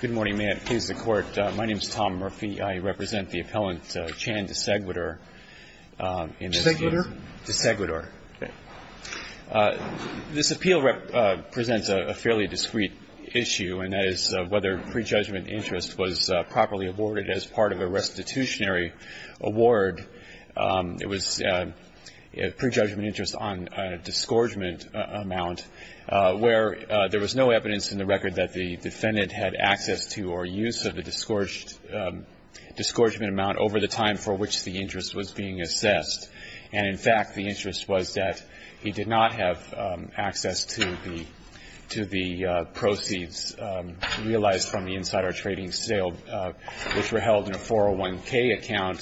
Good morning. May it please the Court. My name is Tom Murphy. I represent the appellant Chan Desaigoudar. Desaigoudar? Desaigoudar. This appeal presents a fairly discreet issue, and that is whether prejudgment interest was properly awarded as part of a restitutionary award. It was prejudgment interest on a disgorgement amount where there was no evidence in the record that the defendant had access to or use of the disgorgement amount over the time for which the interest was being assessed. And, in fact, the interest was that he did not have access to the proceeds realized from the insider trading sale, which were held in a 401k account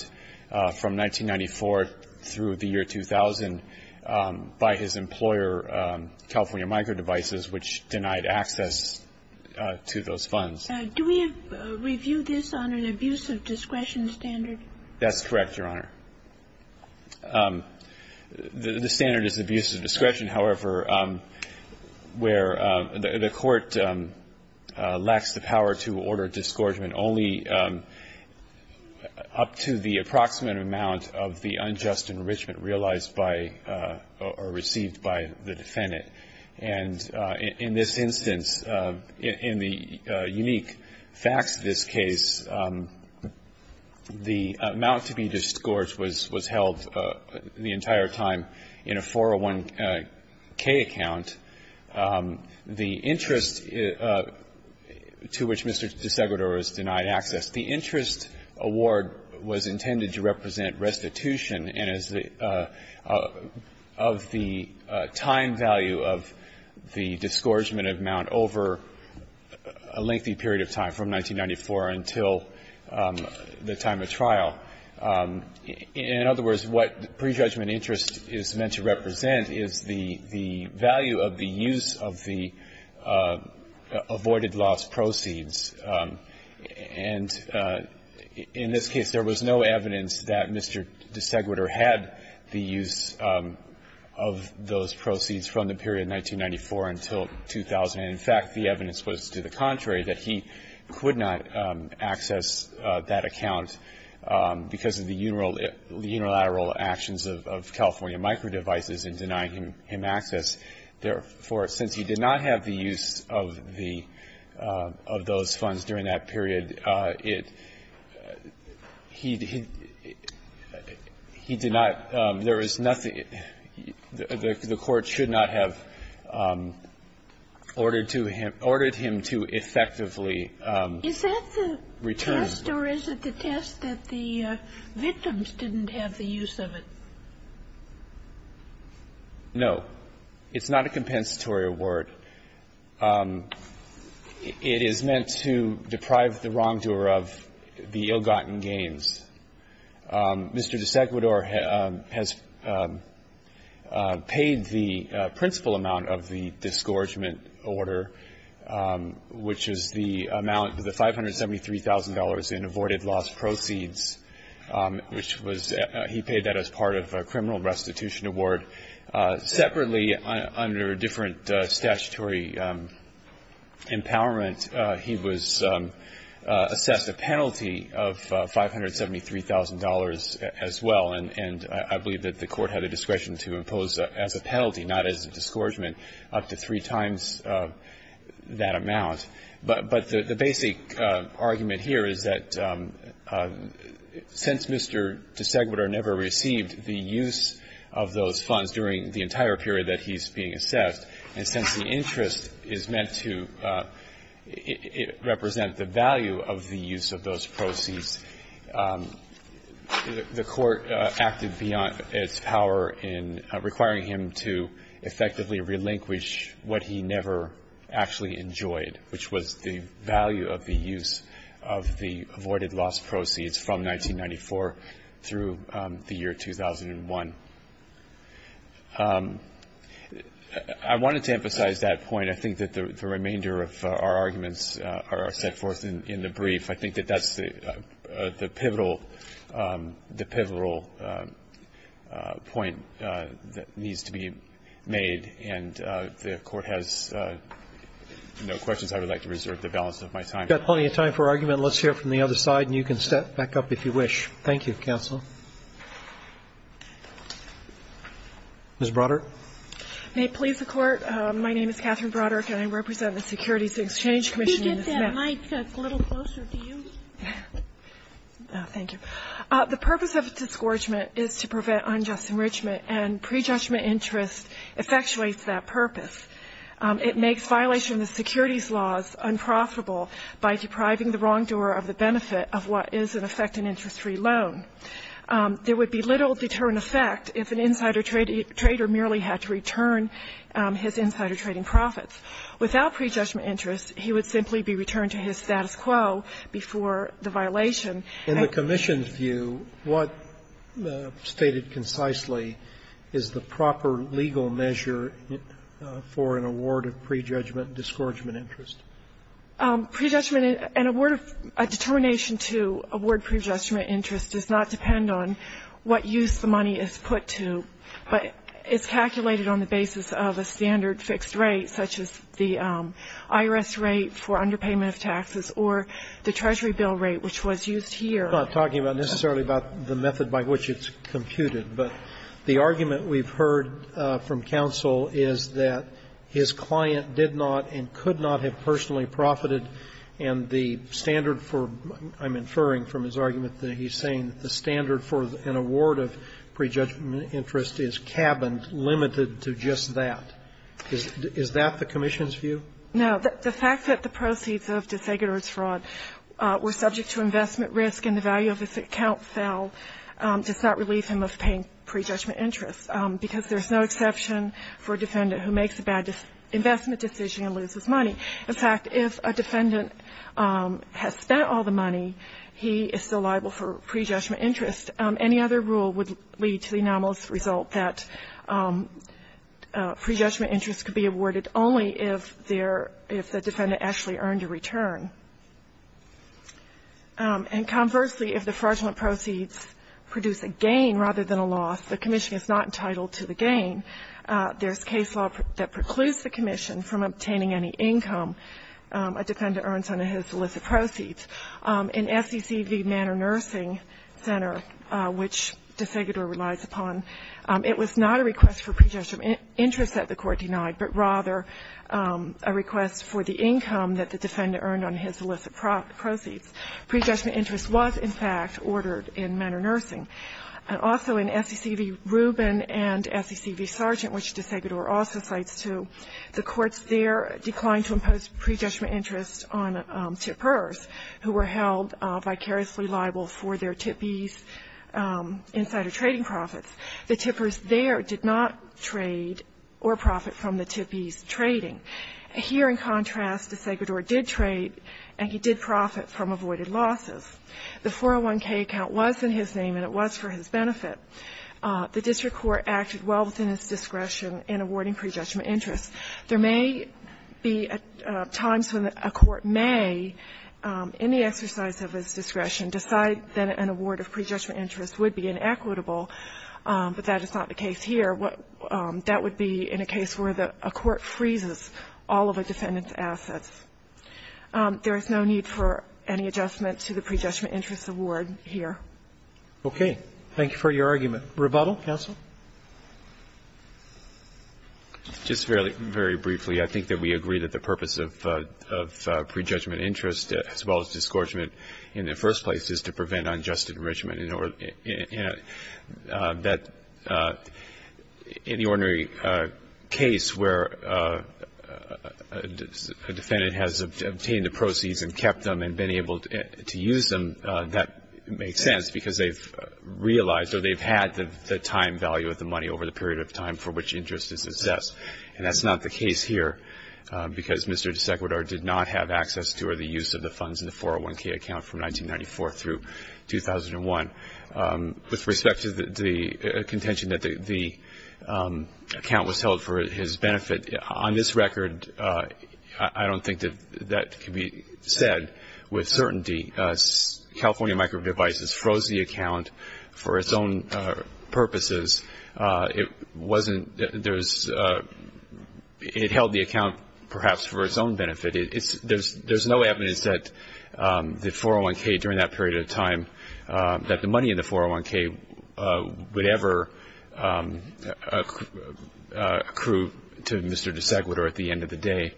from 1994 through the year 2000 by his employer, California Micro Devices, which denied access to those funds. Do we review this under an abuse of discretion standard? That's correct, Your Honor. The standard is abuse of discretion, however, where the court lacks the power to order disgorgement only up to the approximate amount of the unjust enrichment realized by or received by the defendant. And in this instance, in the unique facts of this case, the amount to be disgorged was held the entire time in a 401k account. The interest to which Mr. Desaigoudar has denied access, the interest award was intended to represent restitution and is of the time value of the disgorgement amount over a lengthy period of time, from 1994 until the time of trial. In other words, what prejudgment interest is meant to represent is the value of the use of the avoided loss proceeds. And in this case, there was no evidence that Mr. Desaigoudar had the use of those proceeds from the period 1994 until 2000. In fact, the evidence was to the contrary, that he could not access that account because of the unilateral actions of California Micro Devices in denying him access. Therefore, since he did not have the use of the of those funds during that period, he did not, there was nothing, the court should not have ordered him to effectively return. Is that the test or is it the test that the victims didn't have the use of it? No. It's not a compensatory award. It is meant to deprive the wrongdoer of the ill-gotten gains. Mr. Desaigoudar has paid the principal amount of the disgorgement order, which is the amount of the $573,000 in avoided loss proceeds, which was he paid that as part of the criminal restitution award. Separately, under different statutory empowerment, he was assessed a penalty of $573,000 as well, and I believe that the court had a discretion to impose as a penalty, not as a disgorgement, up to three times that amount. But the basic argument here is that since Mr. Desaigoudar never received the use of those funds during the entire period that he's being assessed, and since the interest is meant to represent the value of the use of those proceeds, the court acted beyond its power in requiring him to effectively relinquish what he never actually enjoyed, which was the value of the use of the avoided loss proceeds from 1994 through the year 2001. I wanted to emphasize that point. I think that the remainder of our arguments are set forth in the brief. I think that that's the pivotal point that needs to be made, and the Court has no questions. I would like to reserve the balance of my time. Roberts. Roberts. We've got plenty of time for argument. Let's hear it from the other side, and you can step back up if you wish. Thank you, counsel. Ms. Broderick. May it please the Court. My name is Catherine Broderick, and I represent the Securities Exchange Commission in this matter. The mic is a little closer to you. Thank you. The purpose of disgorgement is to prevent unjust enrichment, and prejudgment interest effectuates that purpose. It makes violation of the securities laws unprofitable by depriving the wrongdoer of the benefit of what is, in effect, an interest-free loan. There would be little deterrent effect if an insider trader merely had to return his insider trading profits. Without prejudgment interest, he would simply be returned to his status quo before the violation. And the Commission's view, what, stated concisely, is the proper legal measure for an award of prejudgment disgorgement interest? Prejudgment, an award of a determination to award prejudgment interest does not depend on what use the money is put to, but is calculated on the basis of a standard fixed rate such as the IRS rate for underpayment of taxes or the Treasury bill rate, which was used here. I'm not talking necessarily about the method by which it's computed, but the argument we've heard from counsel is that his client did not and could not have personally profited, and the standard for, I'm inferring from his argument that he's saying that the standard for an award of prejudgment interest is cabined, limited to just that. Is that the Commission's view? No. The fact that the proceeds of desegregated fraud were subject to investment risk and the value of this account fell does not relieve him of paying prejudgment interest, because there's no exception for a defendant who makes a bad investment decision and loses money. In fact, if a defendant has spent all the money, he is still liable for prejudgment interest. Any other rule would lead to the anomalous result that prejudgment interest could be awarded only if there the defendant actually earned a return. And conversely, if the fraudulent proceeds produce a gain rather than a loss, the Commission is not entitled to the gain. There's case law that precludes the Commission from obtaining any income a defendant earns under his illicit proceeds. In SEC v. Manor Nursing Center, which de Segador relies upon, it was not a request for prejudgment interest that the Court denied, but rather a request for the income that the defendant earned on his illicit proceeds. Prejudgment interest was, in fact, ordered in Manor Nursing. And also in SEC v. Rubin and SEC v. Sargent, which de Segador also cites, too, the were held vicariously liable for their TIPIs, insider trading profits. The tippers there did not trade or profit from the TIPIs trading. Here, in contrast, de Segador did trade, and he did profit from avoided losses. The 401k account was in his name, and it was for his benefit. The district court acted well within its discretion in awarding prejudgment interest. There may be times when a court may, in the exercise of its discretion, decide that an award of prejudgment interest would be inequitable, but that is not the case here. That would be in a case where a court freezes all of a defendant's assets. There is no need for any adjustment to the prejudgment interest award here. Thank you for your argument. Rebuttal, counsel? Just very briefly, I think that we agree that the purpose of prejudgment interest, as well as disgorgement in the first place, is to prevent unjust enrichment. In the ordinary case where a defendant has obtained the proceeds and kept them and been able to use them, that makes sense, because they've realized or they've had the time value of the money over the period of time for which interest is assessed. And that's not the case here, because Mr. DeSeguidor did not have access to or the use of the funds in the 401k account from 1994 through 2001. With respect to the contention that the account was held for his benefit, on this record, I don't think that that can be said with certainty. California Micro Devices froze the account for its own purposes. It held the account perhaps for its own benefit. There's no evidence that the 401k, during that period of time, that the money in the 401k would ever accrue to Mr. DeSeguidor at the end of the day.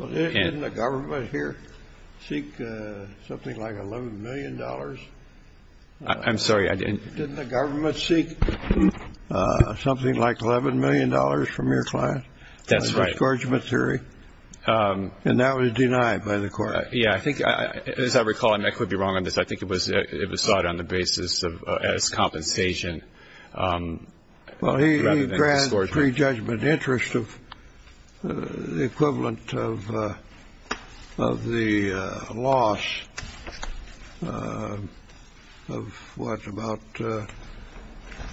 Didn't the government here seek something like $11 million? I'm sorry, I didn't. Didn't the government seek something like $11 million from your client? That's right. The disgorgement theory. And that was denied by the court. Yeah, I think, as I recall, and I could be wrong on this, I think it was sought on the basis of as compensation rather than disgorgement. In the pre-judgment interest of the equivalent of the loss of what, about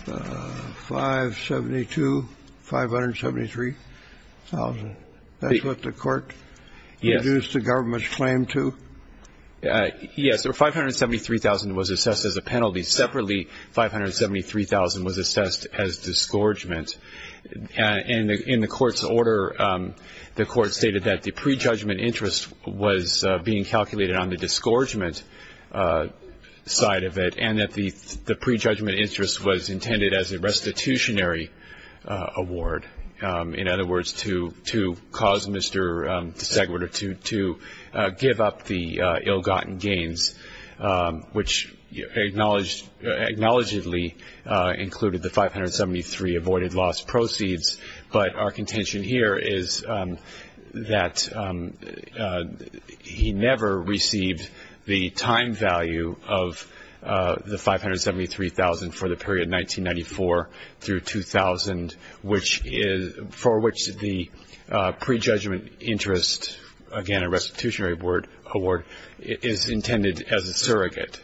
572, 573,000? That's what the court reduced the government's claim to? Yes. 573,000 was assessed as a penalty. Separately, 573,000 was assessed as disgorgement. And in the court's order, the court stated that the pre-judgment interest was being calculated on the disgorgement side of it and that the pre-judgment interest was intended as a restitutionary award. In other words, to cause Mr. DeSeguidor to give up the ill-gotten gains, which acknowledgedly included the 573 avoided loss proceeds. But our contention here is that he never received the time value of the 573,000 for the period 1994 through 2000, for which the pre-judgment interest, again, a surrogate.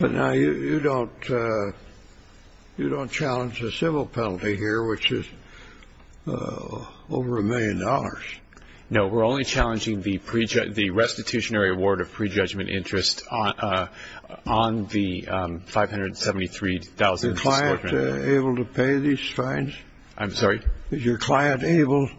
But now you don't challenge the civil penalty here, which is over a million dollars. No. We're only challenging the restitutionary award of pre-judgment interest on the 573,000. Is your client able to pay these fines? I'm sorry? Is your client able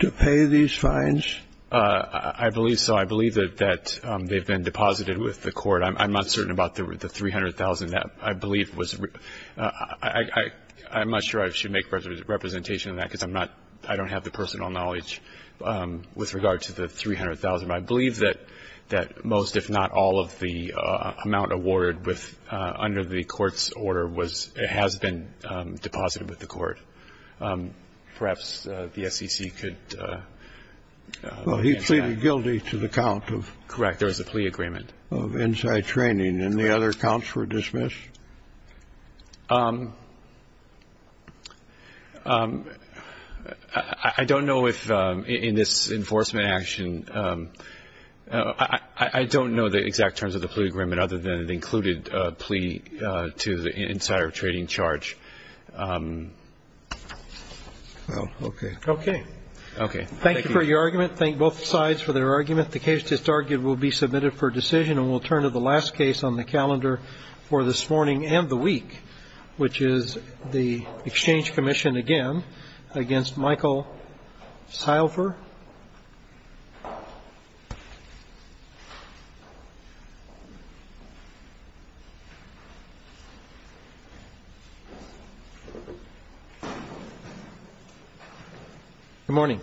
to pay these fines? I believe so. I believe that they've been deposited with the court. I'm not certain about the 300,000. I believe it was real. I'm not sure I should make representation of that because I'm not – I don't have the personal knowledge with regard to the 300,000. But I believe that most, if not all, of the amount awarded with – under the court's order was – has been deposited with the court. Perhaps the SEC could answer that. I'm guilty to the count of… Correct. There was a plea agreement.… of inside training, and the other counts were dismissed? I don't know if in this enforcement action – I don't know the exact terms of the plea agreement other than it included a plea to the insider trading charge. Well, okay. Okay. Okay. Thank you. Thank you for your argument. Thank both sides for their argument. The case that's argued will be submitted for decision, and we'll turn to the last case on the calendar for this morning and the week, which is the exchange commission again against Michael Seilfer. Good morning.